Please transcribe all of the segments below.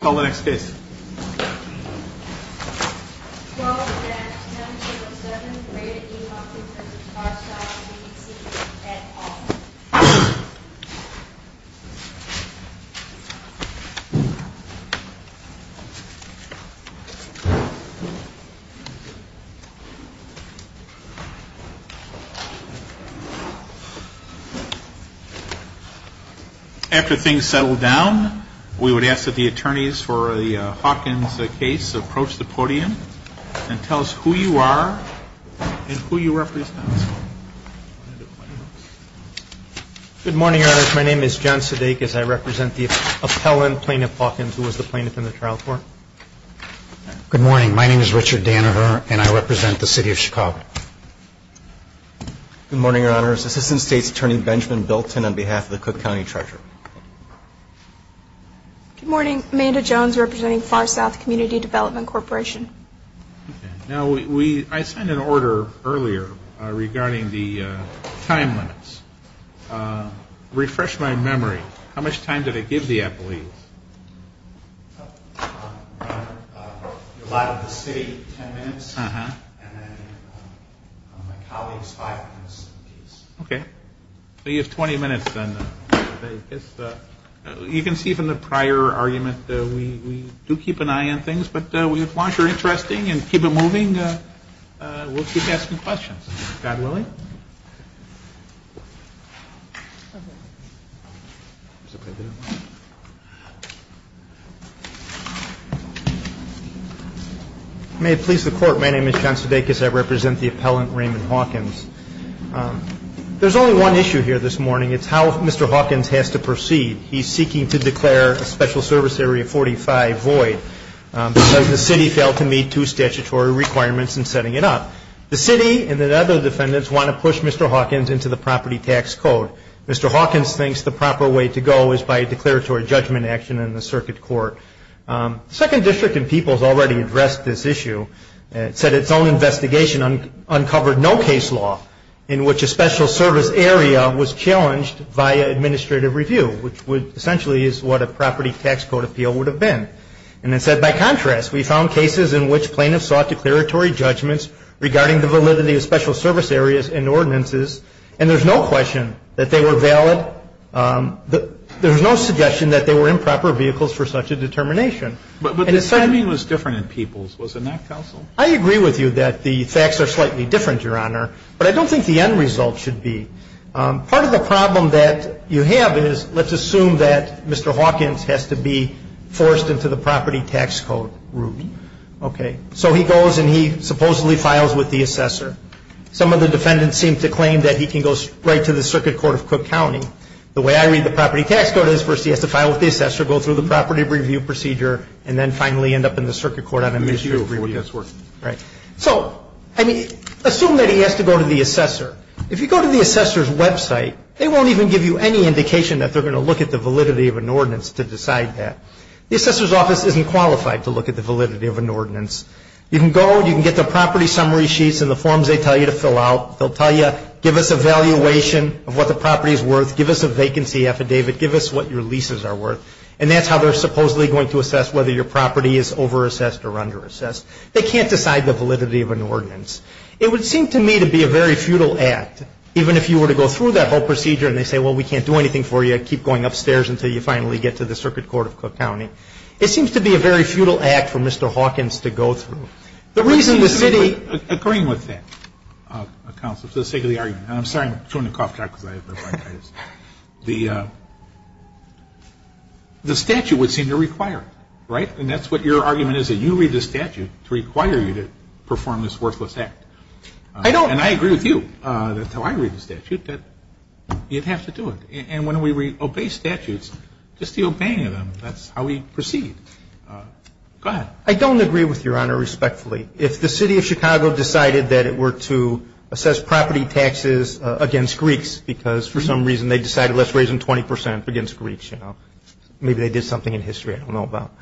Call the next case. After things settle down, we would ask that the attorneys for the Parkins case approach the podium and tell us who you are and who you represent. Good morning, Your Honors. My name is John Sudeikis. I represent the appellant, Plaintiff Parkins, who was the plaintiff in the trial court. Good morning. My name is Richard Danaher, and I represent the City of Chicago. Good morning, Your Honors. Assistant State's Attorney Benjamin Bilton on behalf of the Cook County Treasurer. Good morning. Amanda Jones, representing Far South Community Development Corporation. Now, I sent an order earlier regarding the time limits. Refresh my memory. How much time did I give the appellees? Your Honor, your lot of the city, ten minutes, and then my colleagues, five minutes apiece. Okay. So you have 20 minutes, then. You can see from the prior argument that we do keep an eye on things, but we want to keep it interesting and keep it moving. We'll keep asking questions. God willing. May it please the Court. My name is John Sudeikis. I represent the appellant, Raymond Hawkins. There's only one issue here this morning. It's how Mr. Hawkins has to proceed. He's seeking to declare a Special Service Area 45 void because the city failed to meet two statutory requirements in setting it up. The city and the other defendants want to know how to proceed. They want to push Mr. Hawkins into the property tax code. Mr. Hawkins thinks the proper way to go is by declaratory judgment action in the circuit court. The Second District and People's already addressed this issue. It said its own investigation uncovered no case law in which a Special Service Area was challenged via administrative review, which essentially is what a property tax code appeal would have been. And it said, by contrast, we found cases in which plaintiffs sought declaratory judgments regarding the validity of Special Service Areas and ordinances, and there's no question that they were valid. There's no suggestion that they were improper vehicles for such a determination. But the timing was different in People's. Was it not, counsel? I agree with you that the facts are slightly different, Your Honor, but I don't think the end result should be. Part of the problem that you have is let's assume that Mr. Hawkins has to be forced into the property tax code route. So he goes and he supposedly files with the assessor. Some of the defendants seem to claim that he can go straight to the circuit court of Cook County. The way I read the property tax code is first he has to file with the assessor, go through the property review procedure, and then finally end up in the circuit court on administrative review. So, I mean, assume that he has to go to the assessor. If you go to the assessor's website, they won't even give you any indication that they're going to look at the validity of an ordinance to decide that. The assessor's office isn't qualified to look at the validity of an ordinance. You can go and you can get the property summary sheets and the forms they tell you to fill out. They'll tell you, give us a valuation of what the property is worth. Give us a vacancy affidavit. Give us what your leases are worth. And that's how they're supposedly going to assess whether your property is overassessed or underassessed. They can't decide the validity of an ordinance. It would seem to me to be a very futile act, even if you were to go through that whole procedure and they say, well, we can't do anything for you. You've got to keep going upstairs until you finally get to the circuit court of Cook County. It seems to be a very futile act for Mr. Hawkins to go through. The reason the committee — I'm agreeing with that, counsel, for the sake of the argument. And I'm sorry I'm chewing a cough drop because I have bronchitis. The statute would seem to require it, right? And that's what your argument is, that you read the statute to require you to perform this worthless act. I don't — And I agree with you, that's how I read the statute, that you'd have to do it. And when we obey statutes, just the obeying of them, that's how we proceed. Go ahead. I don't agree with Your Honor respectfully. If the city of Chicago decided that it were to assess property taxes against Greeks because for some reason they decided let's raise them 20 percent against Greeks, you know, maybe they did something in history I don't know about,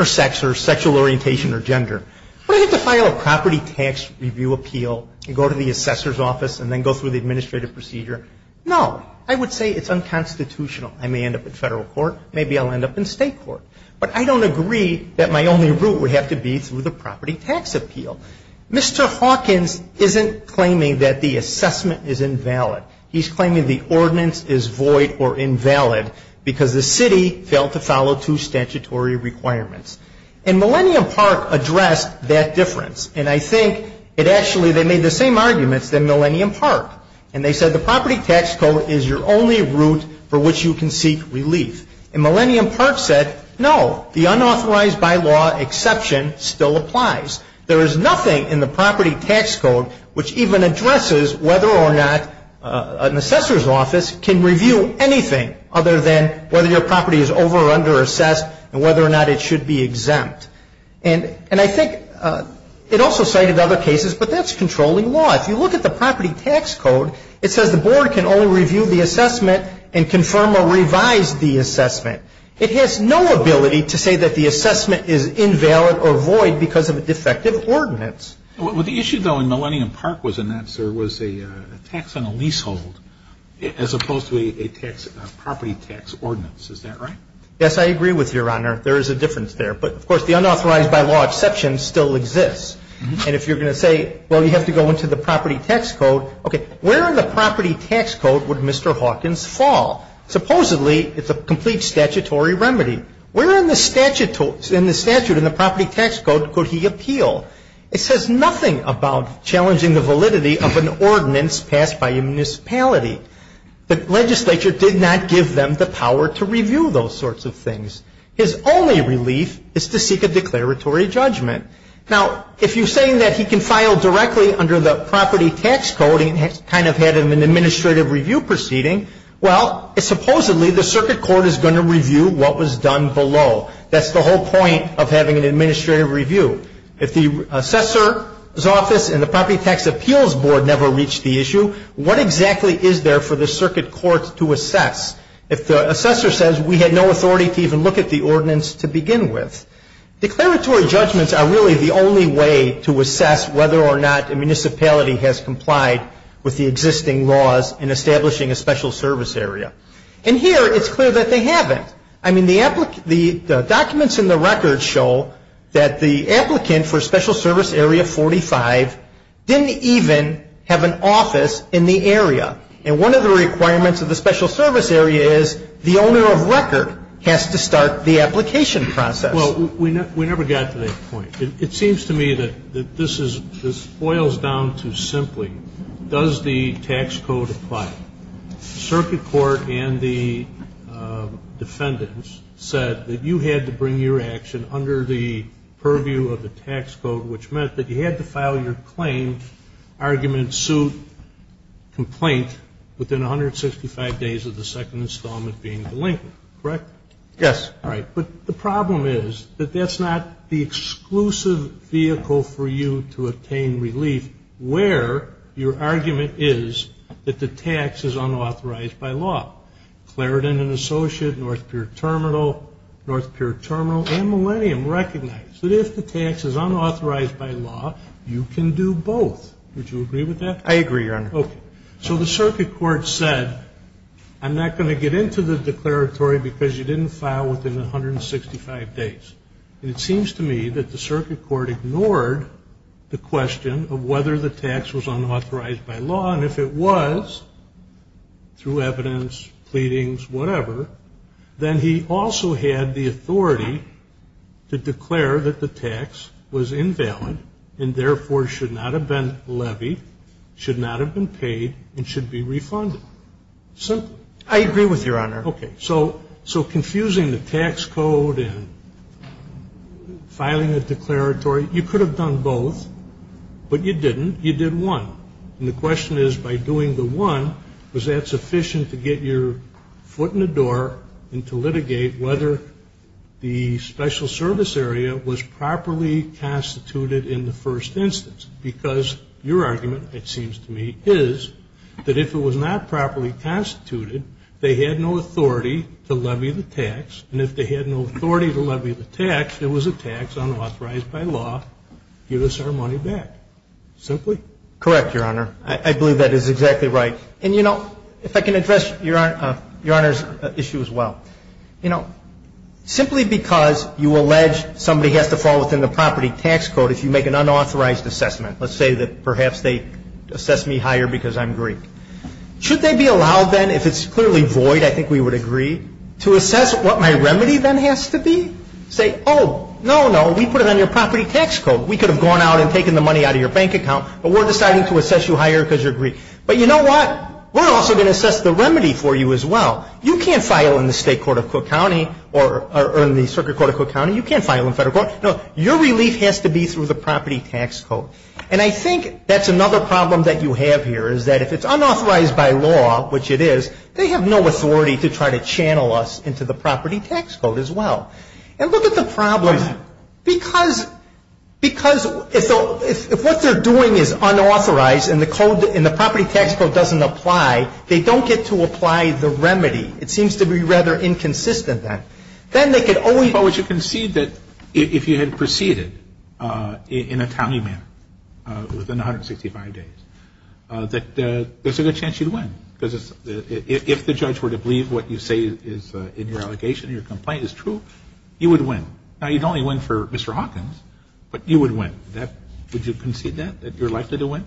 or sex or sexual orientation or gender. Would I have to file a property tax review appeal and go to the assessor's office and then go through the administrative procedure? No. I would say it's unconstitutional. I may end up in Federal court. Maybe I'll end up in State court. But I don't agree that my only route would have to be through the property tax appeal. Mr. Hawkins isn't claiming that the assessment is invalid. He's claiming the ordinance is void or invalid because the city failed to follow two statutory requirements. And Millennium Park addressed that difference. And I think it actually — they made the same arguments than Millennium Park. And they said the property tax code is your only route for which you can seek relief. And Millennium Park said, no, the unauthorized bylaw exception still applies. There is nothing in the property tax code which even addresses whether or not an assessor's office can review anything other than whether your property is over or under assessed and whether or not it should be exempt. And I think it also cited other cases, but that's controlling law. If you look at the property tax code, it says the board can only review the assessment and confirm or revise the assessment. It has no ability to say that the assessment is invalid or void because of a defective ordinance. Well, the issue, though, in Millennium Park was a tax on a leasehold as opposed to a property tax ordinance. Is that right? Yes, I agree with you, Your Honor. There is a difference there. But, of course, the unauthorized bylaw exception still exists. And if you're going to say, well, you have to go into the property tax code, okay, where in the property tax code would Mr. Hawkins fall? Supposedly, it's a complete statutory remedy. Where in the statute in the property tax code could he appeal? It says nothing about challenging the validity of an ordinance passed by a municipality. The legislature did not give them the power to review those sorts of things. His only relief is to seek a declaratory judgment. Now, if you're saying that he can file directly under the property tax code and kind of have an administrative review proceeding, well, supposedly the circuit court is going to review what was done below. That's the whole point of having an administrative review. If the assessor's office and the property tax appeals board never reached the issue, what exactly is there for the circuit court to assess? If the assessor says, we had no authority to even look at the ordinance to begin with. Declaratory judgments are really the only way to assess whether or not a municipality has complied with the existing laws in establishing a special service area. And here, it's clear that they haven't. I mean, the documents in the record show that the applicant for special service area 45 didn't even have an office in the area. And one of the requirements of the special service area is the owner of record has to start the application process. Well, we never got to that point. It seems to me that this boils down to simply, does the tax code apply? Circuit court and the defendants said that you had to bring your action under the purview of the tax code, which meant that you had to file your claim, argument, suit, complaint, within 165 days of the second installment being delinquent, correct? Yes. All right. But the problem is that that's not the exclusive vehicle for you to obtain relief where your argument is that the tax is unauthorized by law. Clarendon & Associates, North Pier Terminal, North Pier Terminal, and Millennium recognized that if the tax is unauthorized by law, you can do both. Would you agree with that? I agree, Your Honor. Okay. So the circuit court said, I'm not going to get into the declaratory because you didn't file within 165 days. And it seems to me that the circuit court ignored the question of whether the tax was unauthorized by law. And if it was, through evidence, pleadings, whatever, then he also had the authority to declare that the tax was invalid and therefore should not have been levied, should not have been paid, and should be refunded. Simply. I agree with you, Your Honor. Okay. So confusing the tax code and filing a declaratory, you could have done both, but you didn't. You did one. And the question is, by doing the one, was that sufficient to get your foot in the door and to litigate whether the special service area was properly constituted in the first instance? Because your argument, it seems to me, is that if it was not properly constituted, they had no authority to levy the tax. And if they had no authority to levy the tax, it was a tax unauthorized by law. Give us our money back. Simply. Correct, Your Honor. I believe that is exactly right. And, you know, if I can address Your Honor's issue as well. You know, simply because you allege somebody has to fall within the property tax code if you make an unauthorized assessment, let's say that perhaps they assess me higher because I'm Greek, should they be allowed then, if it's clearly void, I think we would agree, to assess what my remedy then has to be? Say, oh, no, no, we put it on your property tax code. We could have gone out and taken the money out of your bank account, but we're deciding to assess you higher because you're Greek. But you know what? We're also going to assess the remedy for you as well. You can't file in the state court of Cook County or in the circuit court of Cook County. You can't file in federal court. No, your relief has to be through the property tax code. And I think that's another problem that you have here, is that if it's unauthorized by law, which it is, they have no authority to try to channel us into the property tax code as well. And look at the problem. Why is that? Because if what they're doing is unauthorized and the property tax code doesn't apply, they don't get to apply the remedy. It seems to be rather inconsistent then. Then they could always. But would you concede that if you had proceeded in a tally manner within 165 days, that there's a good chance you'd win? Because if the judge were to believe what you say is in your allegation, your complaint is true, you would win. Now, you'd only win for Mr. Hawkins, but you would win. Would you concede that, that you're likely to win?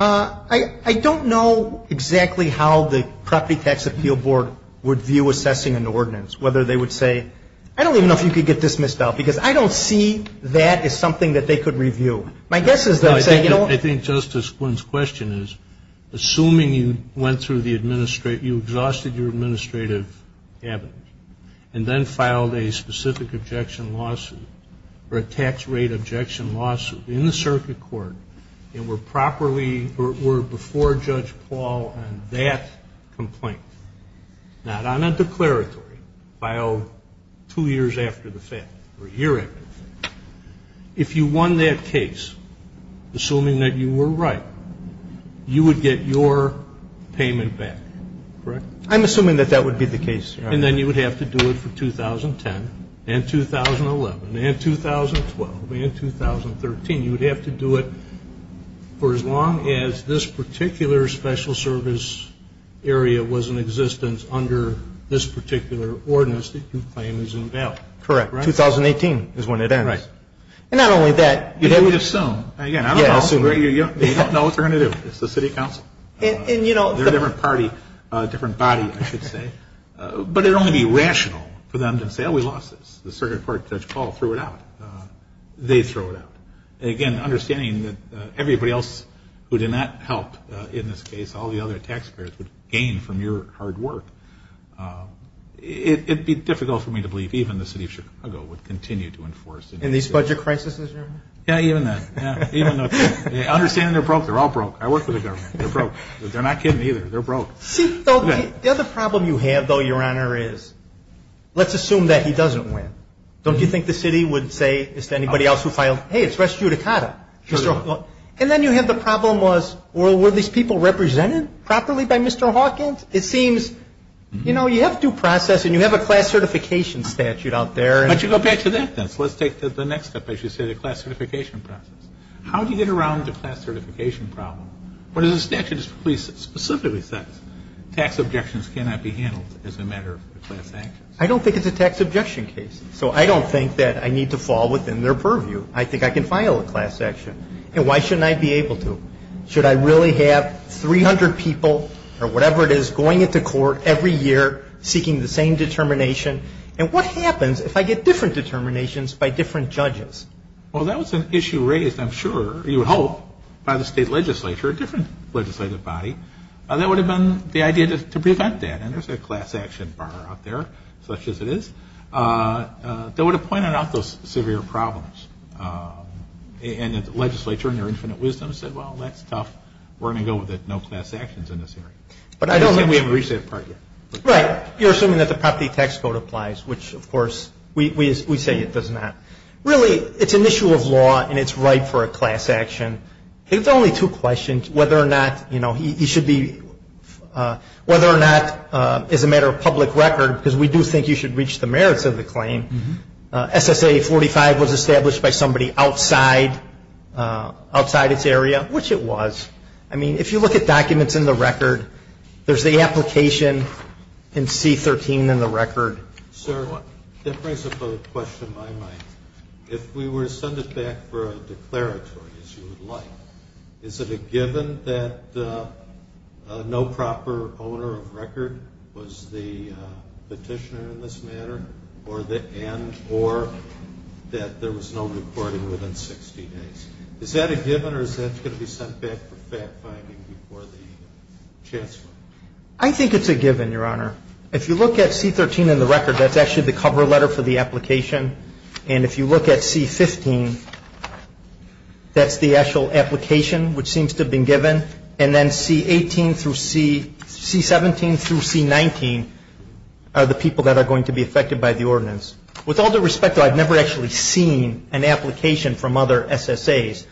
I don't know exactly how the Property Tax Appeal Board would view assessing an ordinance, whether they would say, I don't even know if you could get this missed out, because I don't see that as something that they could review. My guess is they would say, you know. I think Justice Quinn's question is, assuming you went through the administrative you exhausted your administrative evidence and then filed a specific objection lawsuit or a tax rate objection lawsuit in the circuit court and were properly before Judge Paul on that complaint, not on a declaratory filed two years after the fact or a year after the fact. If you won that case, assuming that you were right, you would get your payment back. Correct? I'm assuming that that would be the case. And then you would have to do it for 2010 and 2011 and 2012 and 2013. You would have to do it for as long as this particular special service area was in existence under this particular ordinance that you claim is in valid. Correct. 2018 is when it ends. Right. And not only that. You would assume. Again, I don't know. You don't know what they're going to do. It's the city council. They're a different party, a different body, I should say. But it would only be rational for them to say, oh, we lost this. The circuit court, Judge Paul threw it out. They throw it out. Again, understanding that everybody else who did not help in this case, all the other taxpayers would gain from your hard work. It would be difficult for me to believe even the city of Chicago would continue to enforce. In these budget crises? Yeah, even then. Understanding they're broke. They're all broke. I work for the government. They're broke. They're not kidding either. They're broke. See, the other problem you have, though, Your Honor, is let's assume that he doesn't win. Don't you think the city would say to anybody else who filed, hey, it's res judicata. And then you have the problem was were these people represented properly by Mr. Hawkins? It seems, you know, you have due process and you have a class certification statute out there. But you go back to that, then. So let's take the next step, as you say, the class certification process. How do you get around the class certification problem? What does the statute specifically say? Tax objections cannot be handled as a matter of class actions. I don't think it's a tax objection case. So I don't think that I need to fall within their purview. I think I can file a class action. And why shouldn't I be able to? Should I really have 300 people or whatever it is going into court every year seeking the same determination? And what happens if I get different determinations by different judges? Well, that was an issue raised, I'm sure, you hope, by the state legislature, a different legislative body. That would have been the idea to prevent that. And there's a class action bar out there, such as it is, that would have pointed out those severe problems. And the legislature, in their infinite wisdom, said, well, that's tough. We're going to go with it. No class actions in this area. But I don't think we've reached that part yet. Right. You're assuming that the property tax code applies, which, of course, we say it does not. Really, it's an issue of law, and it's right for a class action. It's only two questions, whether or not you should be – whether or not, as a matter of public record, because we do think you should reach the merits of the claim. SSA 45 was established by somebody outside its area, which it was. I mean, if you look at documents in the record, there's the application in C-13 in the record. Sir, that brings up a question in my mind. If we were to send it back for a declaratory, as you would like, is it a given that no proper owner of record was the petitioner in this matter, and or that there was no recording within 60 days? Is that a given, or is that going to be sent back for fact-finding before the chancellor? I think it's a given, Your Honor. If you look at C-13 in the record, that's actually the cover letter for the application. And if you look at C-15, that's the actual application, which seems to have been given. And then C-18 through C – C-17 through C-19 are the people that are going to be affected by the ordinance. With all due respect, though, I've never actually seen an application from other SSAs.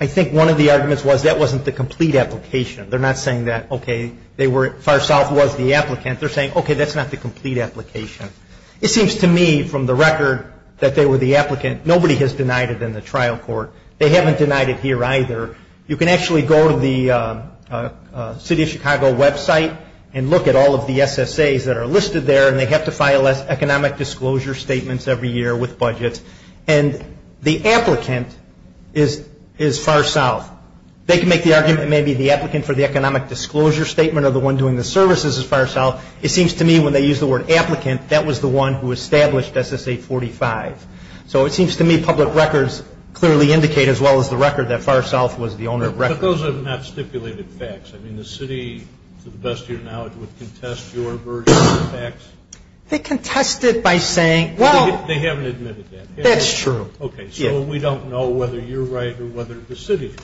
I think one of the arguments was that wasn't the complete application. They're not saying that, okay, they were – Far South was the applicant. They're saying, okay, that's not the complete application. It seems to me from the record that they were the applicant. Nobody has denied it in the trial court. They haven't denied it here either. You can actually go to the City of Chicago website and look at all of the SSAs that are listed there, and they have to file economic disclosure statements every year with budgets. And the applicant is Far South. They can make the argument it may be the applicant for the economic disclosure statement or the one doing the services is Far South. It seems to me when they use the word applicant, that was the one who established SSA-45. So it seems to me public records clearly indicate, as well as the record, that Far South was the owner of records. But those are not stipulated facts. I mean the city, to the best of your knowledge, would contest your version of the facts. They contest it by saying, well – They haven't admitted that. That's true. Okay, so we don't know whether you're right or whether the city is.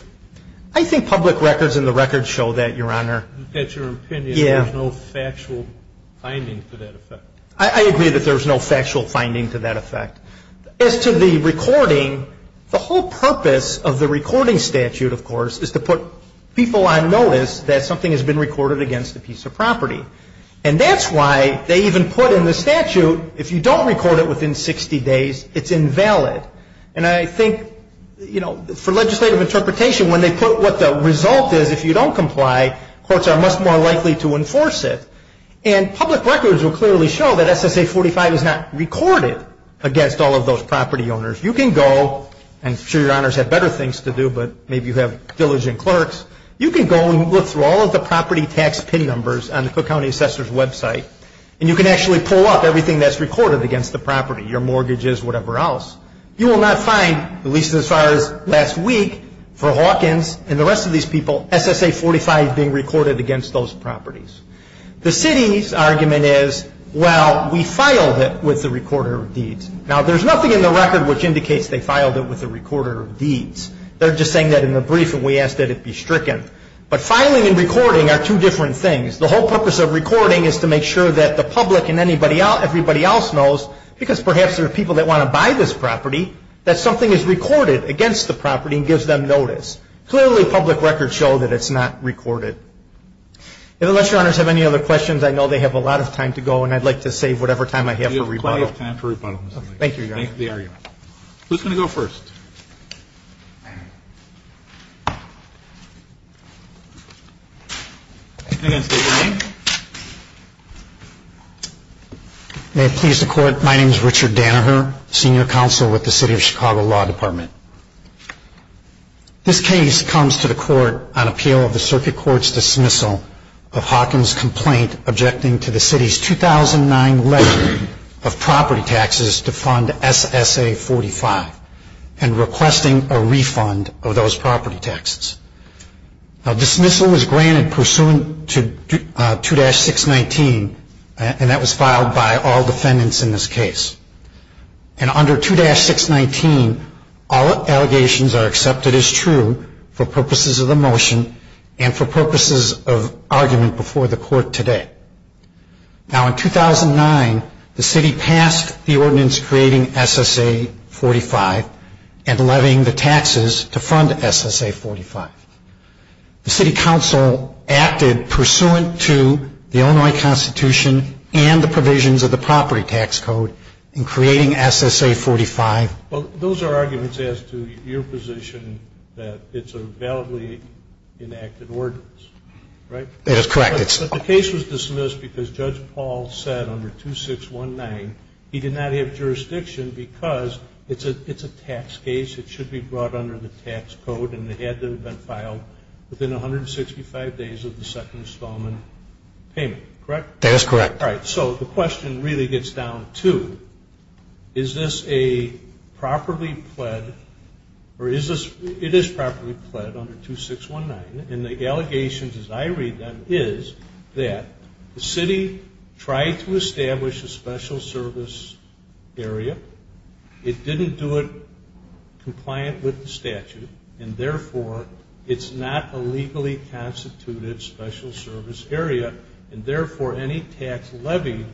I think public records and the records show that, Your Honor. That's your opinion. Yeah. There's no factual finding to that effect. I agree that there's no factual finding to that effect. As to the recording, the whole purpose of the recording statute, of course, is to put people on notice that something has been recorded against a piece of property. And that's why they even put in the statute, if you don't record it within 60 days, it's invalid. And I think, you know, for legislative interpretation, when they put what the result is, if you don't comply, courts are much more likely to enforce it. And public records will clearly show that SSA-45 is not recorded against all of those property owners. You can go, and I'm sure Your Honors have better things to do, but maybe you have diligent clerks. You can go and look through all of the property tax PIN numbers on the Cook County Assessor's website, and you can actually pull up everything that's recorded against the property, your mortgages, whatever else. You will not find, at least as far as last week, for Hawkins and the rest of these people, SSA-45 being recorded against those properties. The city's argument is, well, we filed it with the recorder of deeds. Now, there's nothing in the record which indicates they filed it with the recorder of deeds. They're just saying that in the brief and we asked that it be stricken. But filing and recording are two different things. The whole purpose of recording is to make sure that the public and everybody else knows, because perhaps there are people that want to buy this property, that something is recorded against the property and gives them notice. Clearly, public records show that it's not recorded. And unless Your Honors have any other questions, I know they have a lot of time to go, and I'd like to save whatever time I have for rebuttal. We have plenty of time for rebuttal, Mr. Lankford. Thank you, Your Honors. Thank the argument. Who's going to go first? May it please the Court. My name is Richard Dannerher, Senior Counsel with the City of Chicago Law Department. This case comes to the Court on appeal of the Circuit Court's dismissal of Hawkins' complaint objecting to the City's 2009 letter of property taxes to fund SSA-45. And requesting a refund of those property taxes. Now, dismissal is granted pursuant to 2-619, and that was filed by all defendants in this case. And under 2-619, all allegations are accepted as true for purposes of the motion and for purposes of argument before the Court today. Now, in 2009, the City passed the ordinance creating SSA-45 and levying the taxes to fund SSA-45. The City Council acted pursuant to the Illinois Constitution and the provisions of the Property Tax Code in creating SSA-45. Those are arguments as to your position that it's a validly enacted ordinance, right? That is correct. But the case was dismissed because Judge Paul said under 2-619 he did not have jurisdiction because it's a tax case, it should be brought under the tax code, and it had to have been filed within 165 days of the second installment payment, correct? That is correct. All right. So the question really gets down to, is this a properly pled, or is this, it is properly pled under 2-619, and the allegations as I read them is that the City tried to establish a special service area, it didn't do it compliant with the statute, and therefore it's not a legally constituted special service area, and therefore any tax levy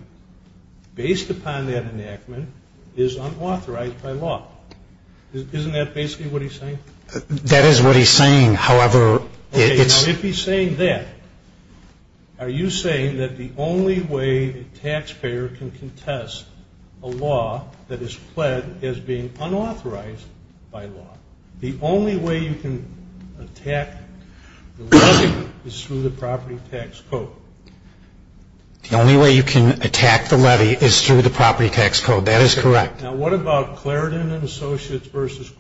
based upon that enactment is unauthorized by law. Isn't that basically what he's saying? That is what he's saying. However, it's... Okay. Now, if he's saying that, are you saying that the only way a taxpayer can contest a law that is pled as being unauthorized by law, the only way you can attack the levy is through the Property Tax Code? The only way you can attack the levy is through the Property Tax Code. That is correct. Now, what about Clarendon & Associates v.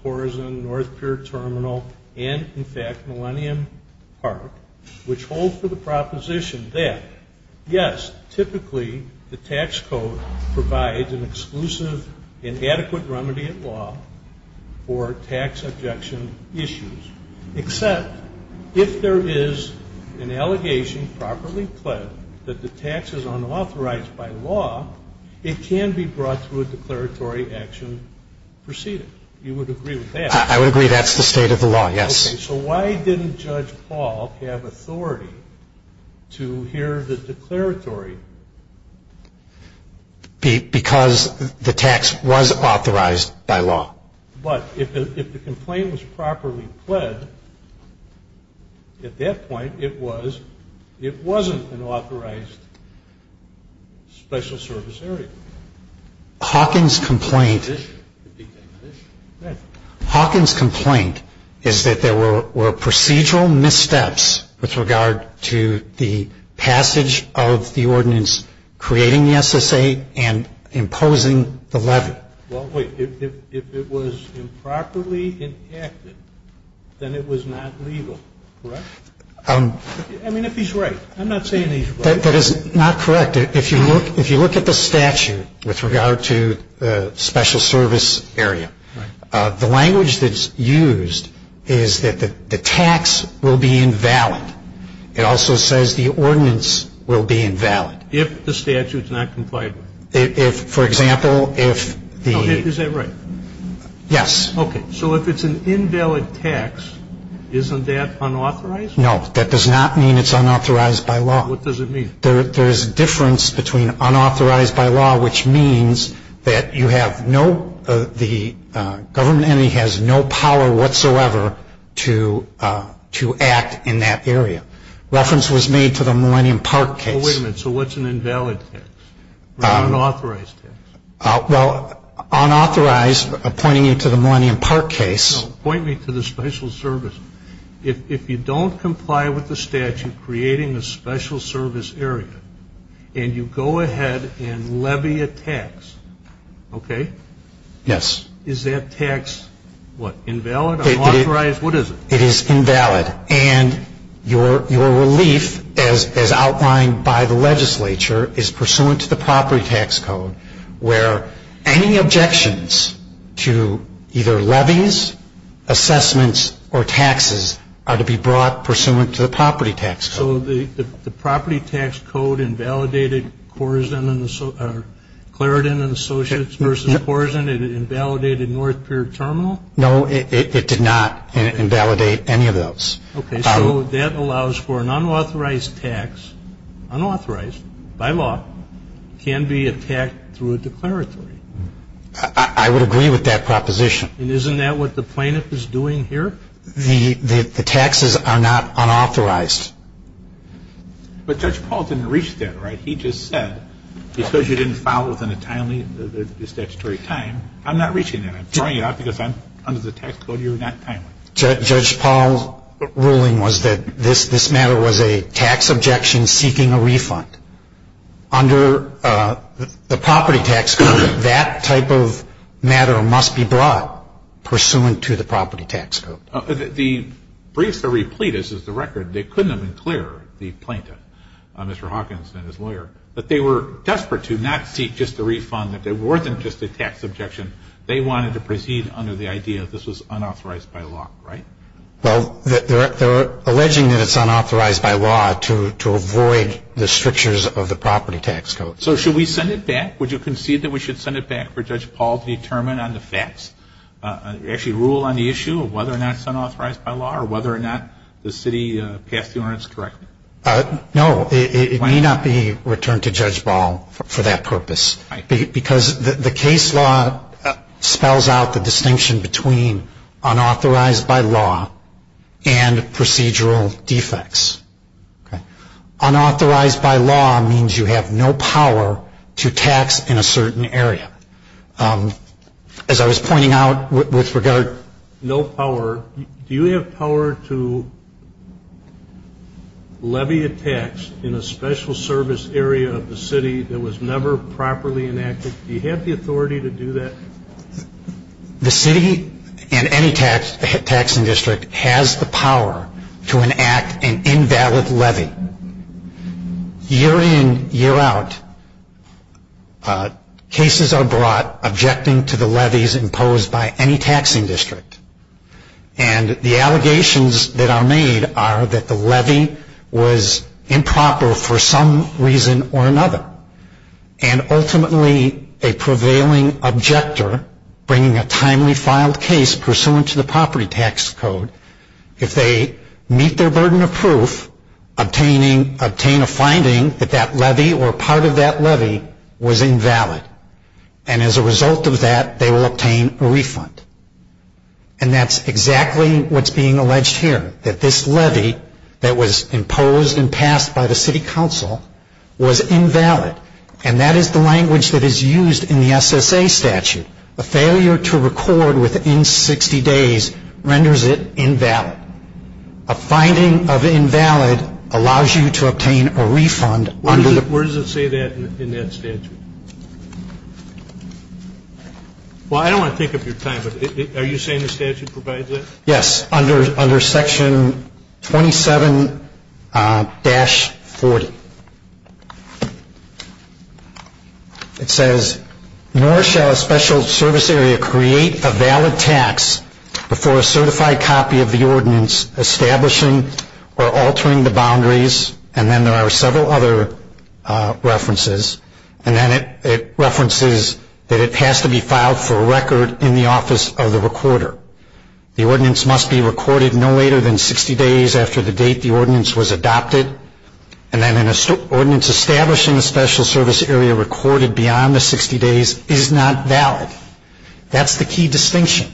Korzen, North Pier Terminal, and, in fact, Millennium Park, which hold for the proposition that, yes, typically the tax code provides an exclusive and adequate remedy at law for tax objection issues, except if there is an allegation properly pled that the tax is unauthorized by law, it can be brought through a declaratory action preceded. You would agree with that? I would agree that's the state of the law, yes. Okay. So why didn't Judge Paul have authority to hear the declaratory? Because the tax was authorized by law. But if the complaint was properly pled, at that point, it wasn't an authorized special service area. Hawkins' complaint is that there were procedural missteps with regard to the passage of the ordinance creating the SSA and imposing the levy. Well, wait. If it was improperly enacted, then it was not legal, correct? I mean, if he's right. I'm not saying he's right. That is not correct. If you look at the statute with regard to special service area, the language that's used is that the tax will be invalid. It also says the ordinance will be invalid. If the statute is not complied with. Is that right? Yes. Okay. So if it's an invalid tax, isn't that unauthorized? No. That does not mean it's unauthorized by law. What does it mean? There's a difference between unauthorized by law, which means that the government entity has no power whatsoever to act in that area. Reference was made to the Millennium Park case. Wait a minute. So what's an invalid tax or unauthorized tax? Well, unauthorized, pointing you to the Millennium Park case. Point me to the special service. If you don't comply with the statute creating a special service area and you go ahead and levy a tax, okay? Yes. Is that tax, what, invalid, unauthorized? What is it? It is invalid. And your relief, as outlined by the legislature, is pursuant to the property tax code, where any objections to either levies, assessments, or taxes are to be brought pursuant to the property tax code. So the property tax code invalidated Clarendon and Associates v. Korsen? It invalidated North Pier Terminal? No, it did not invalidate any of those. Okay. So that allows for an unauthorized tax, unauthorized by law, can be attacked through a declaratory. I would agree with that proposition. And isn't that what the plaintiff is doing here? The taxes are not unauthorized. But Judge Paul didn't reach that, right? He just said, because you didn't file within a timely statutory time, I'm not reaching that. I'm throwing it out because under the tax code, you're not timely. Judge Paul's ruling was that this matter was a tax objection seeking a refund. Under the property tax code, that type of matter must be brought pursuant to the property tax code. The briefs that replete us is the record. They couldn't have been clearer, the plaintiff, Mr. Hawkins and his lawyer, that they were desperate to not seek just a refund, that they weren't just a tax objection. They wanted to proceed under the idea that this was unauthorized by law, right? Well, they're alleging that it's unauthorized by law to avoid the strictures of the property tax code. So should we send it back? Would you concede that we should send it back for Judge Paul to determine on the facts, actually rule on the issue of whether or not it's unauthorized by law or whether or not the city passed the ordinance correctly? No, it may not be returned to Judge Paul for that purpose. Because the case law spells out the distinction between unauthorized by law and procedural defects. Unauthorized by law means you have no power to tax in a certain area. As I was pointing out with regard to no power, do you have power to levy a tax in a special service area of the city that was never properly enacted? Do you have the authority to do that? The city and any taxing district has the power to enact an invalid levy. Year in, year out, cases are brought objecting to the levies imposed by any taxing district. And the allegations that are made are that the levy was improper for some reason or another. And ultimately, a prevailing objector bringing a timely filed case pursuant to the property tax code, if they meet their burden of proof, obtain a finding that that levy or part of that levy was invalid. And as a result of that, they will obtain a refund. And that's exactly what's being alleged here. That this levy that was imposed and passed by the city council was invalid. And that is the language that is used in the SSA statute. A failure to record within 60 days renders it invalid. A finding of invalid allows you to obtain a refund. Where does it say that in that statute? Well, I don't want to take up your time, but are you saying the statute provides that? Yes, under section 27-40. It says, nor shall a special service area create a valid tax before a certified copy of the ordinance establishing or altering the boundaries. And then there are several other references. And then it references that it has to be filed for record in the office of the recorder. The ordinance must be recorded no later than 60 days after the date the ordinance was adopted. And then an ordinance establishing a special service area recorded beyond the 60 days is not valid. That's the key distinction.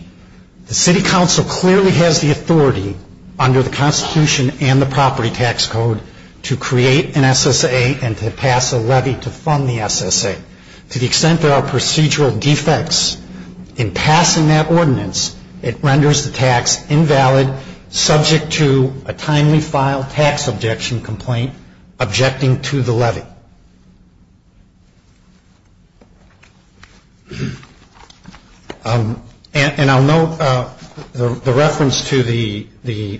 The city council clearly has the authority under the Constitution and the property tax code to create an SSA and to pass a levy to fund the SSA. To the extent there are procedural defects in passing that ordinance, it renders the tax invalid subject to a timely file tax objection complaint objecting to the levy. And I'll note the reference to the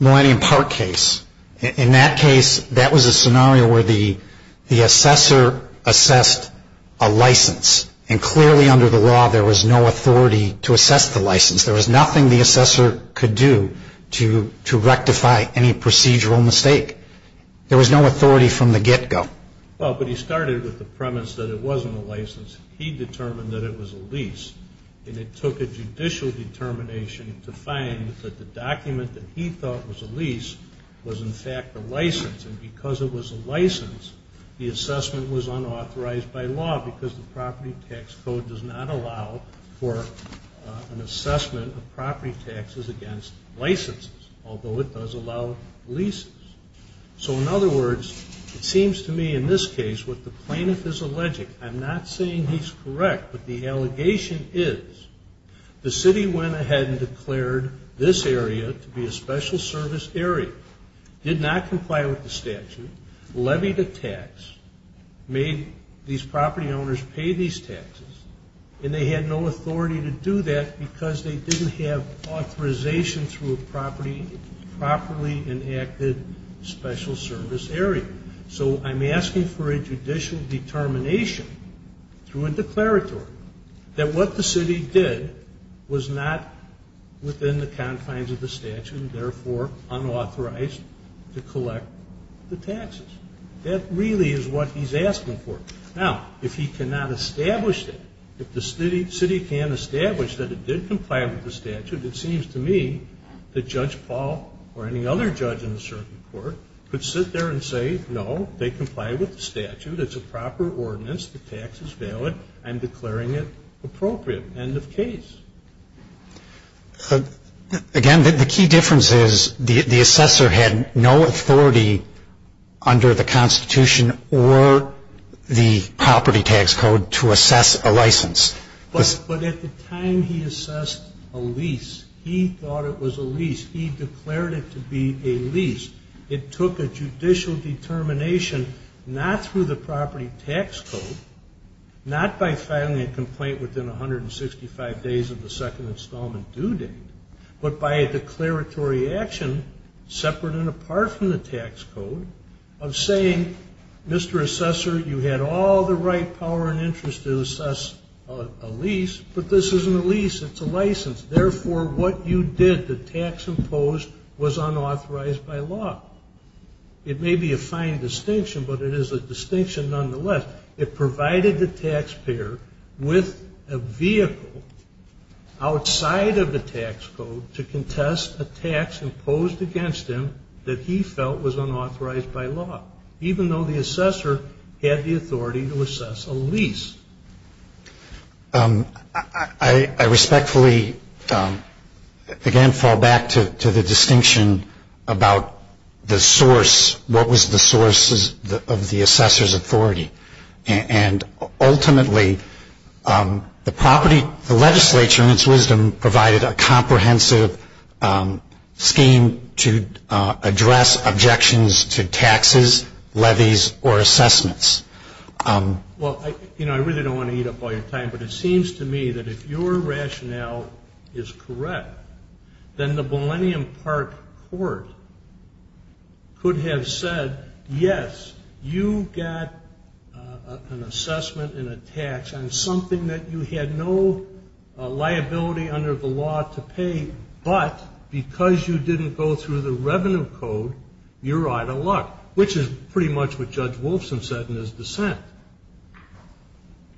Millennium Park case. In that case, that was a scenario where the assessor assessed a license. And clearly under the law, there was no authority to assess the license. There was nothing the assessor could do to rectify any procedural mistake. There was no authority from the get-go. Well, but he started with the premise that it wasn't a license. He determined that it was a lease. And it took a judicial determination to find that the document that he thought was a lease was in fact a license. And because it was a license, the assessment was unauthorized by law because the property tax code does not allow for an assessment of property taxes against licenses, although it does allow leases. So in other words, it seems to me in this case what the plaintiff is alleging, I'm not saying he's correct, but the allegation is the city went ahead and declared this area to be a special service area, did not comply with the statute, levied a tax, made these property owners pay these taxes, and they had no authority to do that because they didn't have authorization through a properly enacted special service area. So I'm asking for a judicial determination through a declaratory that what the city did was not within the confines of the statute and therefore unauthorized to collect the taxes. That really is what he's asking for. Now, if he cannot establish that, if the city can't establish that it did comply with the statute, it seems to me that Judge Paul or any other judge in the circuit court could sit there and say, no, they comply with the statute. It's a proper ordinance. The tax is valid. I'm declaring it appropriate. End of case. Again, the key difference is the assessor had no authority under the Constitution or the property tax code to assess a license. But at the time he assessed a lease, he thought it was a lease. He declared it to be a lease. It took a judicial determination not through the property tax code, not by filing a complaint within 165 days of the second installment due date, but by a declaratory action separate and apart from the tax code of saying, Mr. Assessor, you had all the right power and interest to assess a lease, but this isn't a lease. It's a license. Therefore, what you did, the tax imposed, was unauthorized by law. It may be a fine distinction, but it is a distinction nonetheless. It provided the taxpayer with a vehicle outside of the tax code to contest a tax imposed against him that he felt was unauthorized by law. Even though the assessor had the authority to assess a lease. I respectfully, again, fall back to the distinction about the source, what was the source of the assessor's authority. And ultimately, the property, the legislature in its wisdom provided a comprehensive scheme to address objections to taxes, levies, or assessments. Well, you know, I really don't want to eat up all your time, but it seems to me that if your rationale is correct, then the Millennium Park Court could have said, yes, you got an assessment and a tax on something that you had no liability under the law to pay, but because you didn't go through the revenue code, you're out of luck, which is pretty much what Judge Wilson said in his dissent.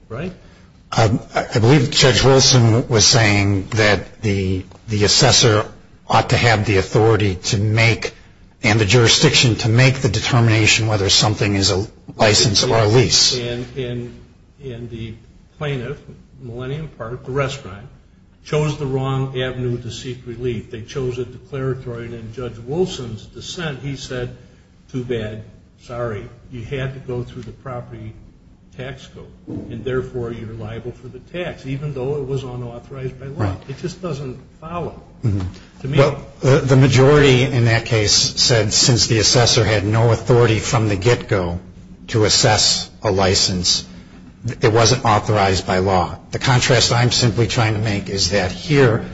Right? I believe Judge Wilson was saying that the assessor ought to have the authority to make and the jurisdiction to make the determination whether something is a license or a lease. And the plaintiff, Millennium Park, the restaurant, chose the wrong avenue to seek relief. They chose a declaratory, and in Judge Wilson's dissent, he said, too bad, sorry. You had to go through the property tax code, and therefore you're liable for the tax, even though it was unauthorized by law. It just doesn't follow. The majority in that case said since the assessor had no authority from the get-go to assess a license, it wasn't authorized by law. The contrast I'm simply trying to make is that here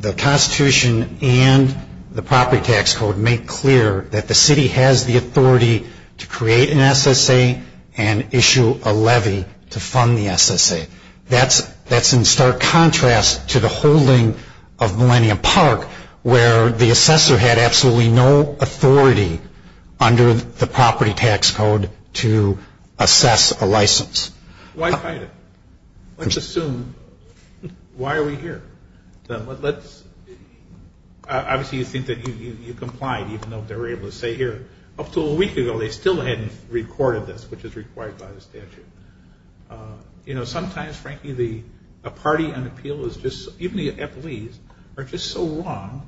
the Constitution and the property tax code make clear that the city has the authority to create an SSA and issue a levy to fund the SSA. That's in stark contrast to the holding of Millennium Park, where the assessor had absolutely no authority under the property tax code to assess a license. Why fight it? Let's assume, why are we here? Obviously you think that you complied, even though they were able to say here, up to a week ago they still hadn't recorded this, which is required by the statute. You know, sometimes, frankly, a party on appeal is just, even the FLEs, are just so wrong,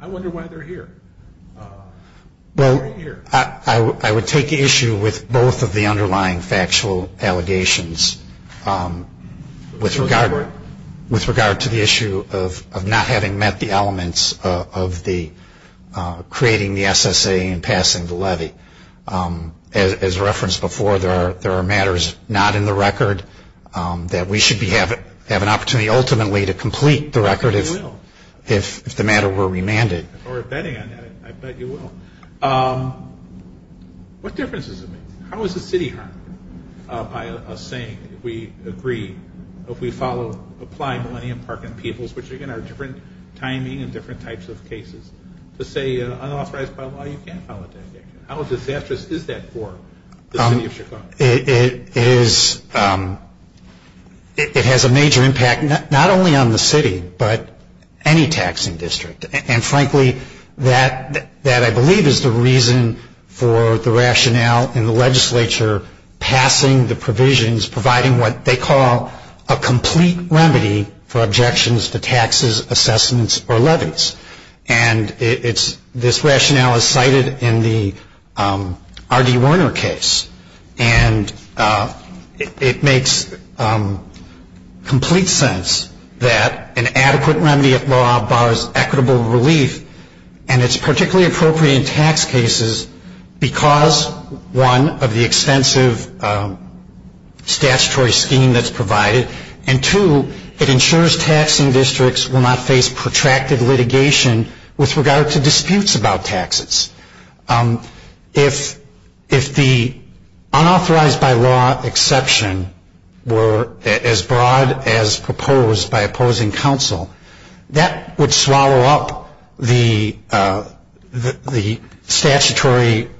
I wonder why they're here. Well, I would take issue with both of the underlying factual allegations with regard to the issue of not having met the elements of creating the SSA and passing the levy. As referenced before, there are matters not in the record that we should have an opportunity ultimately to complete the record if the matter were remanded. We're betting on that, I bet you will. What difference does it make? How is the city harmed by us saying we agree, if we follow, apply Millennium Park and Peebles, which again are different timing and different types of cases, to say unauthorized by law, you can't file a tax action? How disastrous is that for the city of Chicago? It has a major impact, not only on the city, but any taxing district. And frankly, that I believe is the reason for the rationale in the legislature passing the provisions, providing what they call a complete remedy for objections to taxes, assessments, or levies. And this rationale is cited in the R.D. Werner case. And it makes complete sense that an adequate remedy of law borrows equitable relief, and it's particularly appropriate in tax cases because, one, of the extensive statutory scheme that's provided, and two, it ensures taxing districts will not face protracted litigation with regard to disputes about taxes. If the unauthorized by law exception were as broad as proposed by opposing counsel, that would swallow up the statutory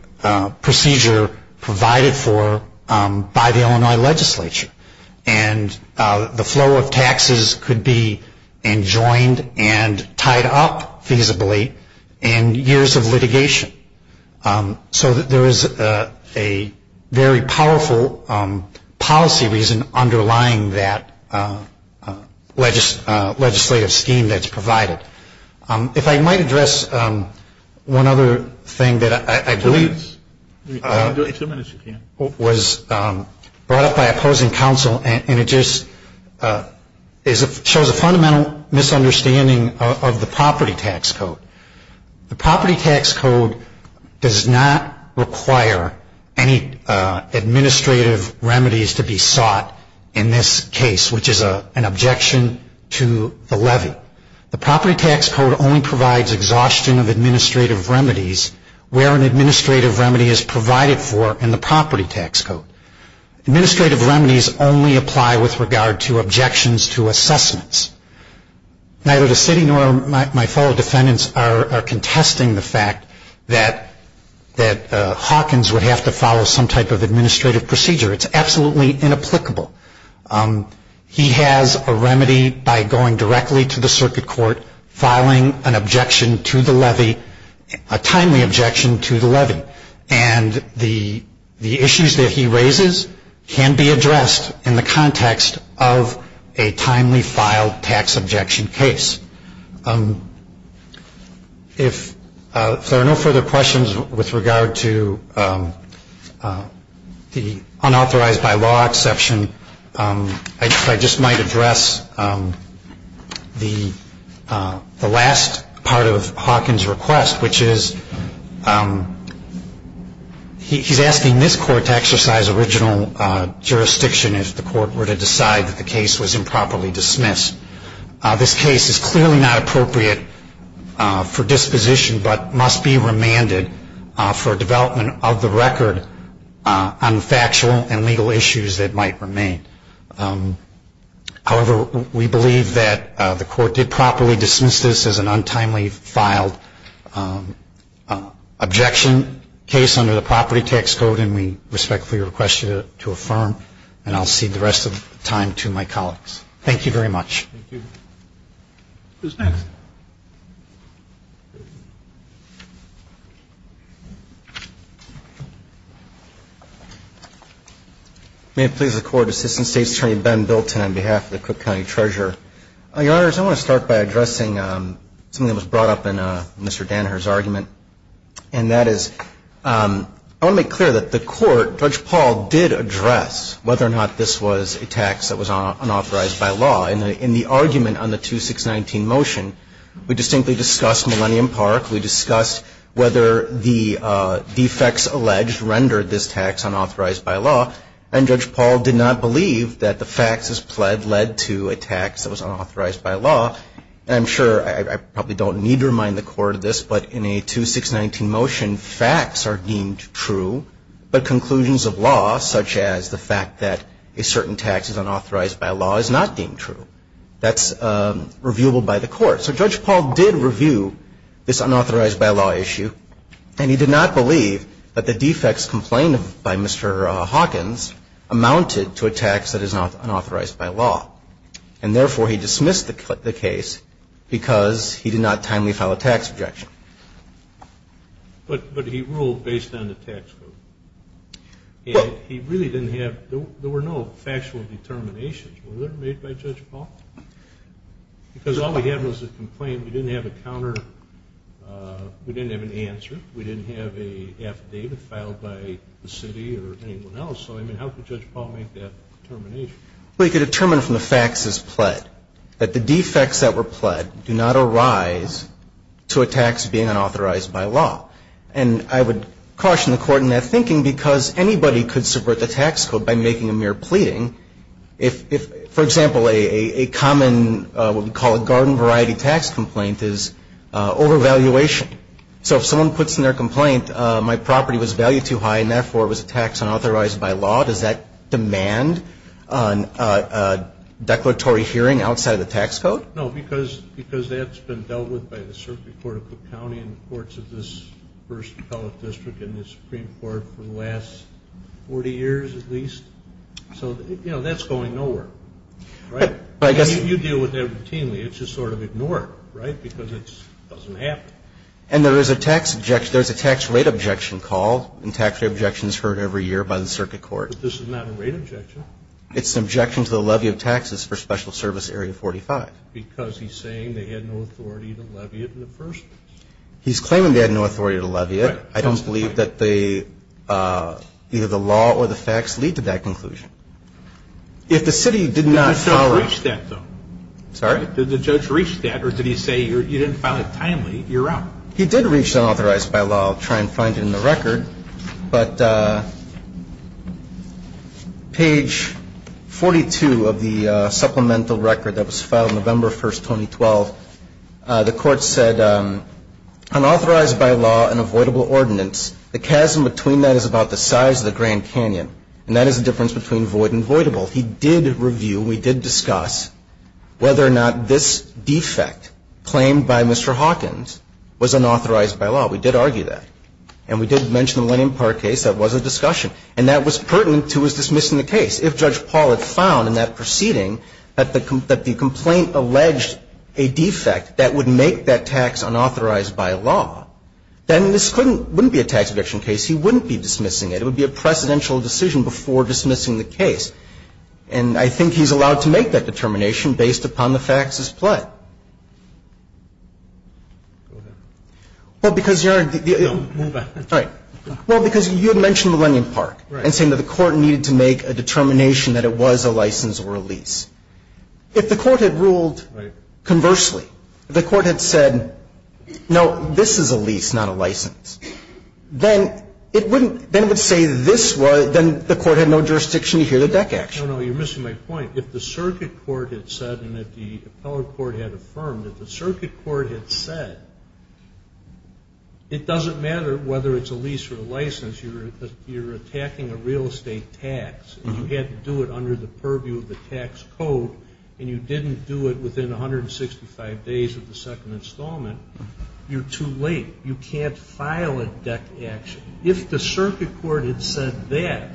procedure provided for by the Illinois legislature. And the flow of taxes could be enjoined and tied up feasibly in years of litigation. So there is a very powerful policy reason underlying that legislative scheme that's provided. If I might address one other thing that I believe was brought up by opposing counsel, and it just shows a fundamental misunderstanding of the property tax code. The property tax code does not require any administrative remedies to be sought in this case, but the property tax code only provides exhaustion of administrative remedies where an administrative remedy is provided for in the property tax code. Administrative remedies only apply with regard to objections to assessments. Neither the city nor my fellow defendants are contesting the fact that Hawkins would have to follow some type of administrative procedure. It's absolutely inapplicable. He has a remedy by going directly to the circuit court, filing an objection to the levy, a timely objection to the levy. And the issues that he raises can be addressed in the context of a timely filed tax objection case. If there are no further questions with regard to the unauthorized by law exception, I just might address the last part of Hawkins' request, which is he's asking this court to exercise original jurisdiction if the court were to decide that the case was improperly dismissed. This case is clearly not appropriate for disposition, but must be remanded for development of the record on factual and legal issues that might remain. However, we believe that the court did properly dismiss this as an untimely filed objection case under the property tax code, and we respectfully request you to affirm. And I'll cede the rest of the time to my colleagues. Thank you very much. Thank you. Who's next? May it please the Court. Assistant State's Attorney Ben Bilton on behalf of the Cook County Treasurer. Your Honors, I want to start by addressing something that was brought up in Mr. Dannher's argument, and that is I want to make clear that the Court, Judge Paul did address whether or not this was a tax that was unauthorized by law in the argument on the 2619 motion. We distinctly discussed Millennium Park. We discussed whether the defects alleged rendered this tax unauthorized by law, and Judge Paul did not believe that the faxes pled led to a tax that was unauthorized by law. And I'm sure I probably don't need to remind the Court of this, but in a 2619 motion, facts are deemed true, but conclusions of law, such as the fact that a certain tax is unauthorized by law, is not deemed true. That's reviewable by the Court. So Judge Paul did review this unauthorized by law issue, and he did not believe that the defects complained of by Mr. Hawkins amounted to a tax that is unauthorized by law. And therefore, he dismissed the case because he did not timely file a tax objection. But he ruled based on the tax code. And he really didn't have, there were no factual determinations. Were there made by Judge Paul? Because all we had was a complaint. We didn't have a counter, we didn't have an answer. We didn't have an affidavit filed by the city or anyone else. So, I mean, how could Judge Paul make that determination? Well, he could determine from the faxes pled that the defects that were pled do not arise to a tax being unauthorized by law. And I would caution the Court in that thinking, because anybody could subvert the tax code by making a mere pleading. If, for example, a common, what we call a garden variety tax complaint is overvaluation. So if someone puts in their complaint, my property was valued too high and therefore it was a tax unauthorized by law, does that demand a declaratory hearing outside of the tax code? No, because that's been dealt with by the Circuit Court of Cook County and the courts of this first appellate district and the Supreme Court for the last 40 years at least. So, you know, that's going nowhere, right? I mean, you deal with that routinely. It's just sort of ignored, right, because it doesn't happen. And there is a tax rate objection called, and tax rate objections are heard every year by the Circuit Court. But this is not a rate objection. It's an objection to the levy of taxes for Special Service Area 45. has not heard of that because he's saying they had no authority to levy it in the first place. He's claiming they had no authority to levy it. Right. I don't believe that either the law or the facts lead to that conclusion. If the city did not follow up the law. Did the judge reach that, though? Sorry? Did the judge reach that, or did he say you didn't file it timely, you're out? He did reach unauthorized by law. I'll try and find it in the record. But page 42 of the supplemental record that was filed November 1st, 2012, the court said, unauthorized by law and avoidable ordinance. The chasm between that is about the size of the Grand Canyon, and that is the difference between void and voidable. He did review, we did discuss whether or not this defect claimed by Mr. Hawkins was unauthorized by law. We did argue that. And we did mention the Millennium Park case. That was a discussion. And that was pertinent to his dismissing the case. If Judge Paul had found in that proceeding that the complaint alleged a defect that would make that tax unauthorized by law, then this wouldn't be a tax eviction case. He wouldn't be dismissing it. It would be a precedential decision before dismissing the case. And I think he's allowed to make that determination based upon the facts as pled. Go ahead. Well, because you're the. No, move back. All right. Well, because you had mentioned Millennium Park. Right. And saying that the court needed to make a determination that it was a license or a lease. If the court had ruled. Right. Conversely, the court had said, no, this is a lease, not a license. Then it wouldn't, then it would say this was, then the court had no jurisdiction to hear the deck action. No, no, you're missing my point. If the circuit court had said and if the appellate court had affirmed, if the circuit court had said, it doesn't matter whether it's a lease or a license, you're attacking a real estate tax and you had to do it under the purview of the tax code and you didn't do it within 165 days of the second installment, you're too late. You can't file a deck action. If the circuit court had said that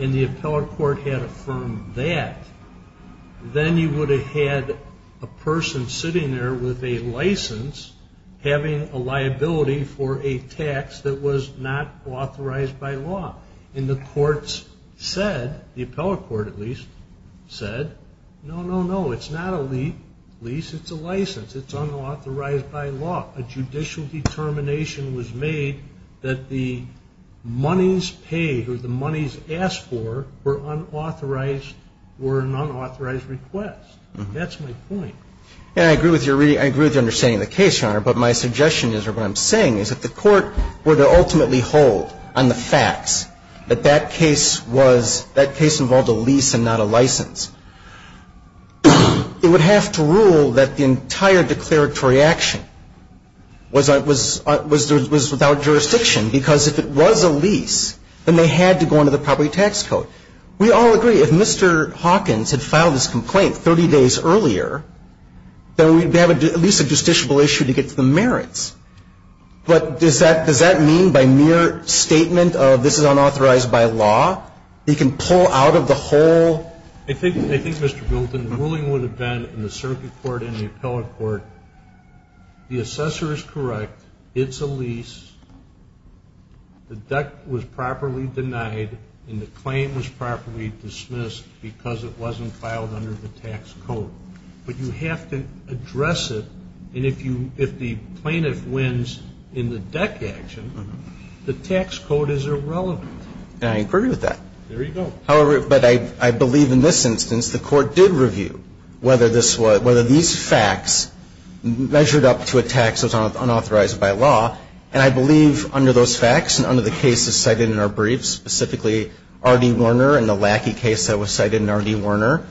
and the appellate court had affirmed that, then you would have had a person sitting there with a license having a liability for a tax that was not authorized by law. And the courts said, the appellate court at least, said, no, no, no, it's not a lease, it's a license. It's unauthorized by law. And so the court would have to decide whether or not a judicial determination was made that the monies paid or the monies asked for were unauthorized or an unauthorized request. That's my point. And I agree with your understanding of the case, Your Honor, but my suggestion is or what I'm saying is that the court would ultimately hold on the facts that that case was, that case involved a lease and not a license. It would have to rule that the entire declaratory action was without jurisdiction because if it was a lease, then they had to go into the property tax code. We all agree if Mr. Hawkins had filed his complaint 30 days earlier, then we'd have at least a justiciable issue to get to the merits. But does that mean by mere statement of this is unauthorized by law, he can pull out of the whole? I think, Mr. Bilton, the ruling would have been in the circuit court and the appellate court, the assessor is correct, it's a lease, the deck was properly denied, and the claim was properly dismissed because it wasn't filed under the tax code. But you have to address it. And if the plaintiff wins in the deck action, the tax code is irrelevant. And I agree with that. There you go. However, but I believe in this instance the court did review whether this was, whether these facts measured up to a tax that was unauthorized by law. And I believe under those facts and under the cases cited in our briefs, specifically R.D. Warner and the Lackey case that was cited in R.D. Warner,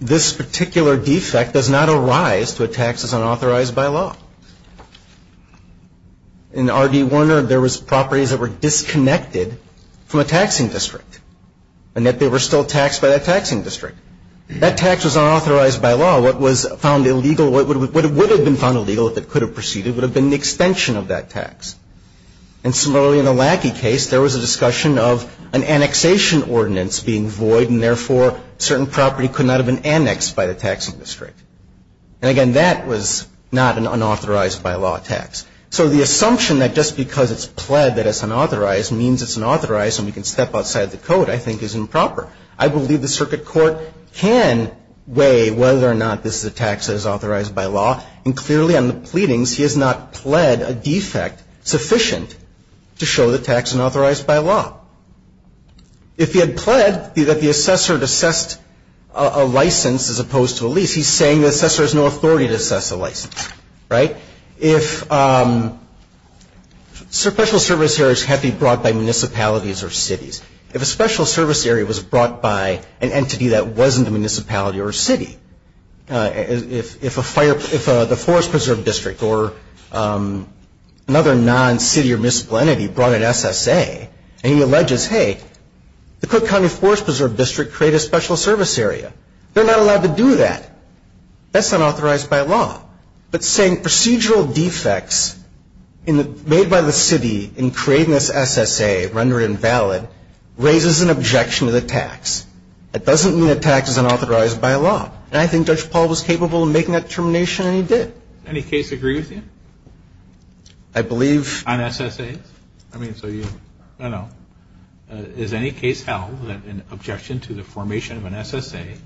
this particular defect does not arise to a tax that's unauthorized by law. In R.D. Warner, there was properties that were disconnected from a taxing district and that they were still taxed by that taxing district. That tax was unauthorized by law. What was found illegal, what would have been found illegal if it could have proceeded would have been the extension of that tax. And similarly in the Lackey case, there was a discussion of an annexation ordinance being void and therefore certain property could not have been annexed by the taxing district. And again, that was not an unauthorized by law tax. So the assumption that just because it's pled that it's unauthorized means it's unauthorized and we can step outside the code I think is improper. I believe the circuit court can weigh whether or not this is a tax that is authorized by law. And clearly on the pleadings, he has not pled a defect sufficient to show the tax is unauthorized by law. If he had pled that the assessor had assessed a license as opposed to a lease, he's saying the assessor has no authority to assess a license, right? If special service areas had to be brought by municipalities or cities, if a special service area was brought by an entity that wasn't a municipality or a city, if the Forest Preserve District or another non-city or municipal entity brought an SSA, and he alleges, hey, the Cook County Forest Preserve District created a special service area, they're not allowed to do that. That's unauthorized by law. But saying procedural defects made by the city in creating this SSA, rendered invalid, raises an objection to the tax. That doesn't mean a tax is unauthorized by law. And I think Judge Paul was capable of making that determination, and he did. Does any case agree with you? I believe... On SSAs? I mean, so you, I don't know. Has any case held that an objection to the formation of an SSA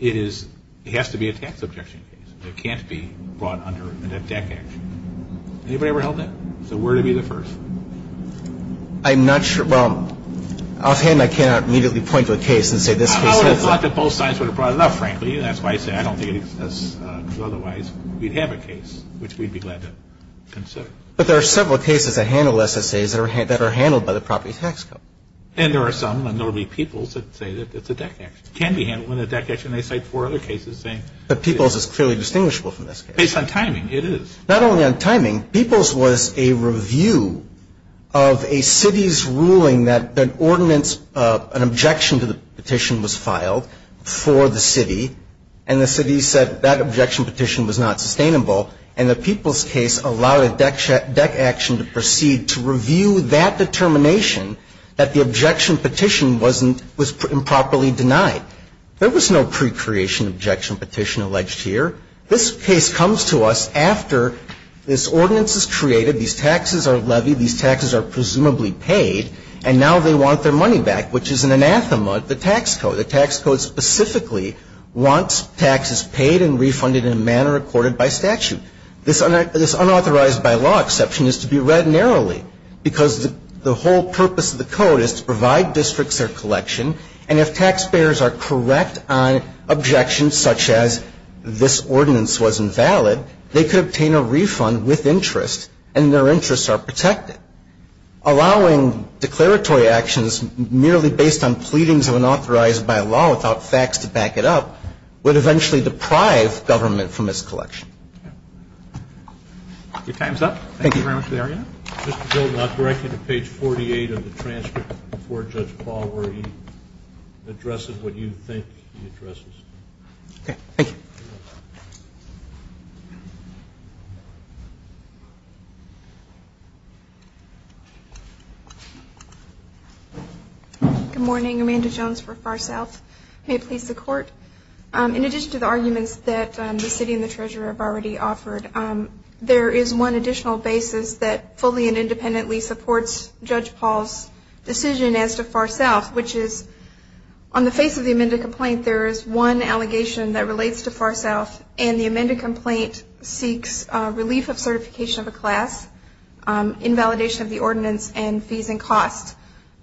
is, it has to be a tax objection case. It can't be brought under a debt action. Anybody ever held that? So where to be the first? I'm not sure. Well, offhand, I cannot immediately point to a case and say this case has... I would have thought that both sides would have brought it up, frankly. That's why I said I don't think it's otherwise. We'd have a case, which we'd be glad to consider. But there are several cases that handle SSAs that are handled by the property tax code. And there are some, and there will be Peoples, that say that it's a debt action. It can be handled in a debt action. They cite four other cases saying... But Peoples is clearly distinguishable from this case. Based on timing, it is. Not only on timing. Peoples was a review of a city's ruling that an ordinance, an objection to the petition was filed for the city, and the city said that objection petition was not sustainable, and the Peoples case allowed a debt action to proceed to review that determination that the objection petition was improperly denied. There was no pre-creation objection petition alleged here. This case comes to us after this ordinance is created, these taxes are levied, these taxes are presumably paid, and now they want their money back, which is an anathema to the tax code. The tax code specifically wants taxes paid and refunded in a manner accorded by statute. This unauthorized by law exception is to be read narrowly, because the whole purpose of the code is to provide districts their collection, and if taxpayers are correct on objections such as this ordinance was invalid, they could obtain a refund with interest, and their interests are protected. Allowing declaratory actions merely based on pleadings of unauthorized by law without facts to back it up would eventually deprive government from this collection. Your time is up. Thank you very much, Larry. Mr. Golden, I'll direct you to page 48 of the transcript before Judge Paul where he addresses what you think he addresses. Okay. Thank you. Good morning. Amanda Jones for Far South. May it please the Court. In addition to the arguments that the City and the Treasurer have already offered, there is one additional basis that fully and independently supports Judge Paul's decision as to Far South, which is on the face of the amended complaint, there is one allegation that relates to Far South, and the amended complaint seeks relief of certification of a class, invalidation of the ordinance, and fees and costs.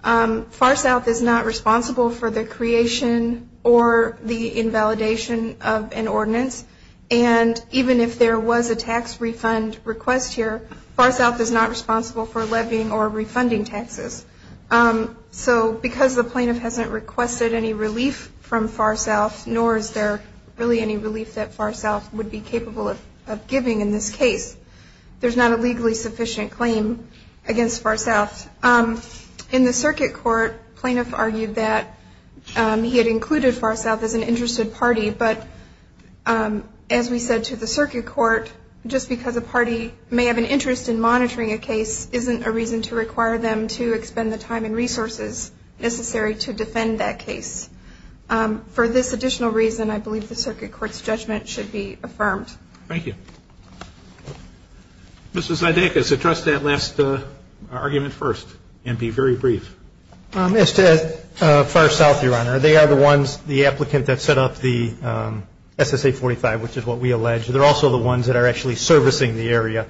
Far South is not responsible for the creation or the invalidation of an ordinance, and even if there was a tax refund request here, Far South is not responsible for levying or refunding taxes. So because the plaintiff hasn't requested any relief from Far South, nor is there really any relief that Far South would be capable of giving in this case, there's not a legally sufficient claim against Far South. In the circuit court, plaintiff argued that he had included Far South as an interested party, but as we said to the circuit court, just because a party may have an interest in monitoring a case isn't a reason to require them to expend the time and resources necessary to defend that case. For this additional reason, I believe the circuit court's judgment should be affirmed. Thank you. Mr. Zydekus, address that last argument first, and be very brief. As to Far South, Your Honor, they are the ones, the applicant that set up the SSA-45, which is what we allege, they're also the ones that are actually servicing the area.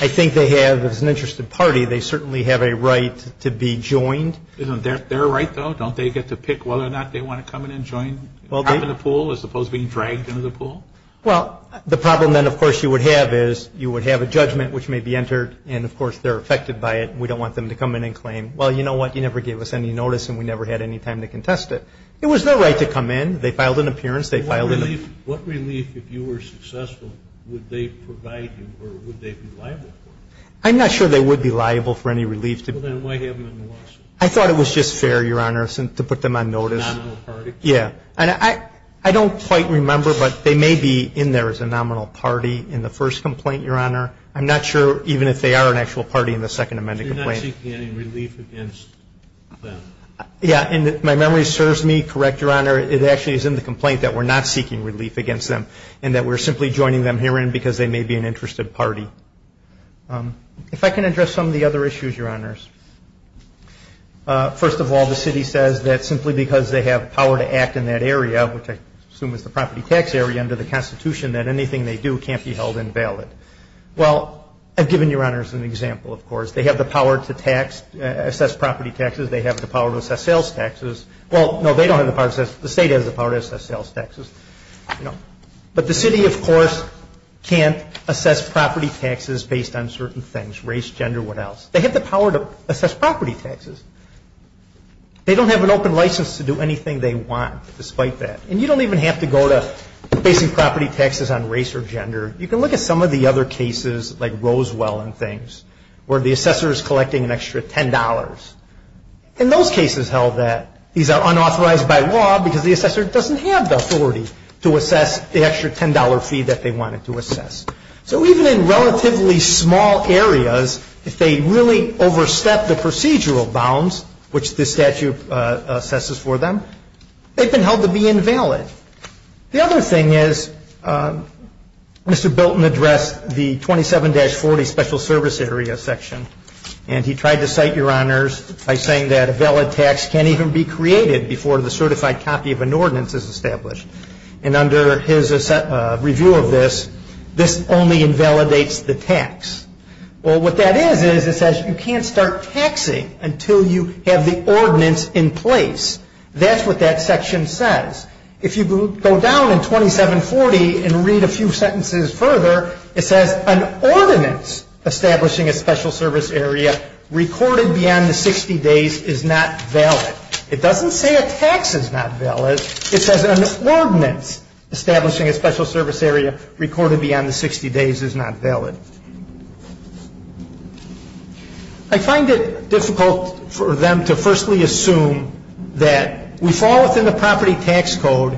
I think they have, as an interested party, they certainly have a right to be joined. Isn't their right, though? Don't they get to pick whether or not they want to come in and join, hop in the pool as opposed to being dragged into the pool? Well, the problem then, of course, you would have is you would have a judgment which may be entered, and, of course, they're affected by it, and we don't want them to come in and claim, well, you know what, you never gave us any notice, and we never had any time to contest it. It was their right to come in. They filed an appearance. What relief, if you were successful, would they provide you, or would they be liable for it? I'm not sure they would be liable for any relief. Well, then why have them in the lawsuit? I thought it was just fair, Your Honor, to put them on notice. A nominal party? Yeah. And I don't quite remember, but they may be in there as a nominal party in the first complaint, Your Honor. I'm not sure even if they are an actual party in the Second Amendment complaint. So you're not seeking any relief against them? Yeah, and if my memory serves me correct, Your Honor, it actually is in the complaint that we're not seeking relief against them and that we're simply joining them herein because they may be an interested party. If I can address some of the other issues, Your Honors. First of all, the city says that simply because they have power to act in that area, which I assume is the property tax area under the Constitution, that anything they do can't be held invalid. Well, I've given Your Honors an example, of course. They have the power to assess property taxes. They have the power to assess sales taxes. Well, no, they don't have the power to assess. The state has the power to assess sales taxes. But the city, of course, can't assess property taxes based on certain things, race, gender, what else. They have the power to assess property taxes. They don't have an open license to do anything they want despite that. And you don't even have to go to basing property taxes on race or gender. You can look at some of the other cases, like Rosewell and things, where the assessor is collecting an extra $10. In those cases held that these are unauthorized by law because the assessor doesn't have the authority to assess the extra $10 fee that they wanted to assess. So even in relatively small areas, if they really overstep the procedural bounds, which this statute assesses for them, they've been held to be invalid. The other thing is Mr. Bilton addressed the 27-40 Special Service Area section, and he tried to cite Your Honors by saying that a valid tax can't even be created before the certified copy of an ordinance is established. And under his review of this, this only invalidates the tax. Well, what that is is it says you can't start taxing until you have the ordinance in place. That's what that section says. If you go down in 27-40 and read a few sentences further, it says an ordinance establishing a Special Service Area recorded beyond the 60 days is not valid. It doesn't say a tax is not valid. It says an ordinance establishing a Special Service Area recorded beyond the 60 days is not valid. I find it difficult for them to firstly assume that we fall within the property tax code,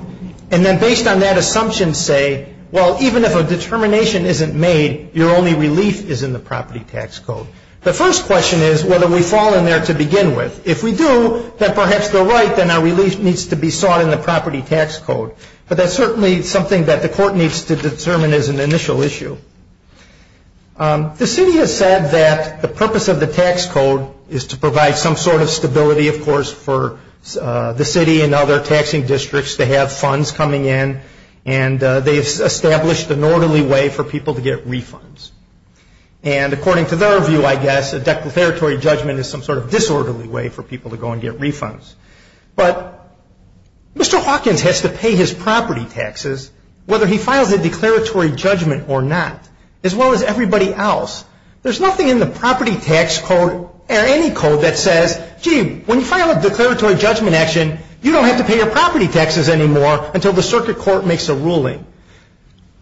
and then based on that assumption say, well, even if a determination isn't made, your only relief is in the property tax code. The first question is whether we fall in there to begin with. If we do, then perhaps they're right, then our relief needs to be sought in the property tax code. But that's certainly something that the court needs to determine as an initial issue. The city has said that the purpose of the tax code is to provide some sort of stability, of course, for the city and other taxing districts to have funds coming in, and they've established an orderly way for people to get refunds. And according to their view, I guess, a declaratory judgment is some sort of disorderly way for people to go and get refunds. But Mr. Hawkins has to pay his property taxes, whether he files a declaratory judgment or not, as well as everybody else. There's nothing in the property tax code or any code that says, gee, when you file a declaratory judgment action, you don't have to pay your property taxes anymore until the circuit court makes a ruling.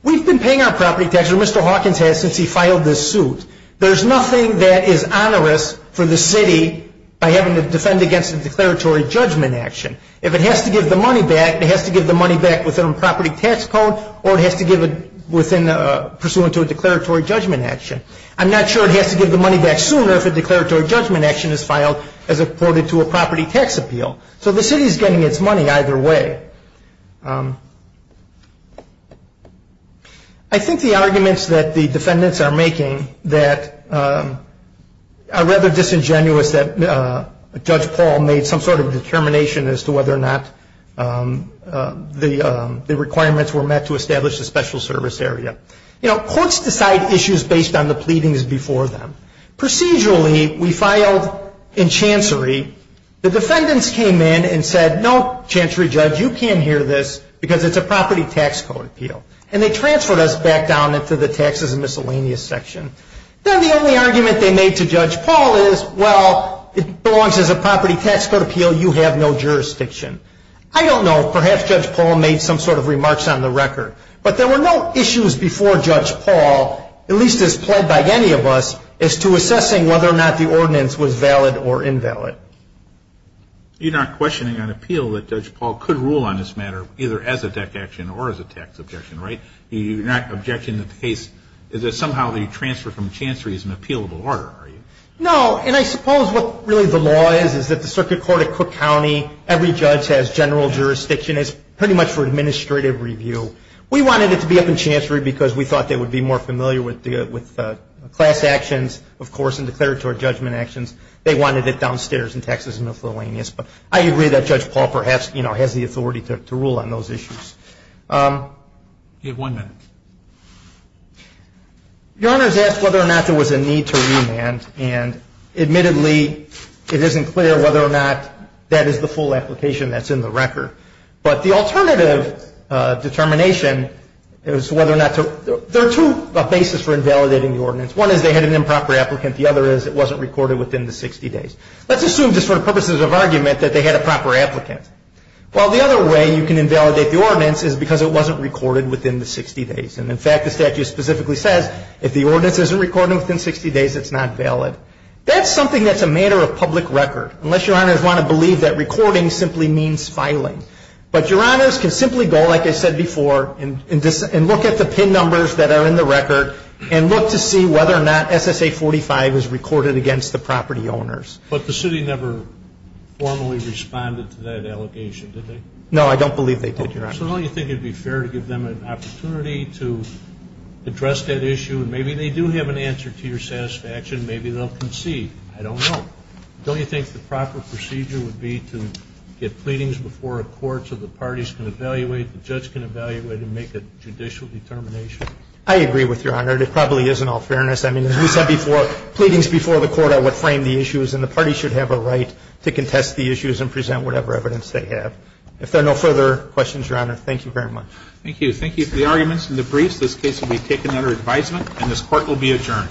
We've been paying our property taxes, or Mr. Hawkins has, since he filed this suit. There's nothing that is onerous for the city by having to defend against a declaratory judgment action. If it has to give the money back, it has to give the money back within a property tax code, or it has to give it pursuant to a declaratory judgment action. I'm not sure it has to give the money back sooner if a declaratory judgment action is filed as accorded to a property tax appeal. So the city is getting its money either way. I think the arguments that the defendants are making that are rather disingenuous, that Judge Paul made some sort of determination as to whether or not the requirements were met to establish a special service area. You know, courts decide issues based on the pleadings before them. Procedurally, we filed in chancery. The defendants came in and said, no, chancery judge, you can't hear this because it's a property tax code appeal. And they transferred us back down into the taxes and miscellaneous section. Then the only argument they made to Judge Paul is, well, it belongs as a property tax code appeal. You have no jurisdiction. I don't know. Perhaps Judge Paul made some sort of remarks on the record. But there were no issues before Judge Paul, at least as pled by any of us, as to assessing whether or not the ordinance was valid or invalid. You're not questioning on appeal that Judge Paul could rule on this matter, either as a tax action or as a tax objection, right? You're not objecting to the case that somehow the transfer from chancery is an appealable order, are you? No. And I suppose what really the law is is that the circuit court at Cook County, every judge has general jurisdiction. It's pretty much for administrative review. We wanted it to be up in chancery because we thought they would be more familiar with class actions, of course, and declaratory judgment actions. They wanted it downstairs in taxes and miscellaneous. But I agree that Judge Paul perhaps has the authority to rule on those issues. You have one minute. Your Honor has asked whether or not there was a need to remand. And admittedly, it isn't clear whether or not that is the full application that's in the record. But the alternative determination is whether or not to – there are two bases for invalidating the ordinance. One is they had an improper applicant. The other is it wasn't recorded within the 60 days. Let's assume just for purposes of argument that they had a proper applicant. Well, the other way you can invalidate the ordinance is because it wasn't recorded within the 60 days. And, in fact, the statute specifically says if the ordinance isn't recorded within 60 days, it's not valid. That's something that's a matter of public record, unless Your Honors want to believe that recording simply means filing. But Your Honors can simply go, like I said before, and look at the PIN numbers that are in the record and look to see whether or not SSA 45 is recorded against the property owners. But the city never formally responded to that allegation, did they? No, I don't believe they did, Your Honor. So now you think it would be fair to give them an opportunity to address that issue, and maybe they do have an answer to your satisfaction. Maybe they'll concede. I don't know. Don't you think the proper procedure would be to get pleadings before a court so the parties can evaluate, the judge can evaluate, and make a judicial determination? I agree with Your Honor. It probably is in all fairness. I mean, as we said before, pleadings before the court are what frame the issues, and the parties should have a right to contest the issues and present whatever evidence they have. If there are no further questions, Your Honor, thank you very much. Thank you. Thank you for the arguments and the briefs. This case will be taken under advisement, and this Court will be adjourned.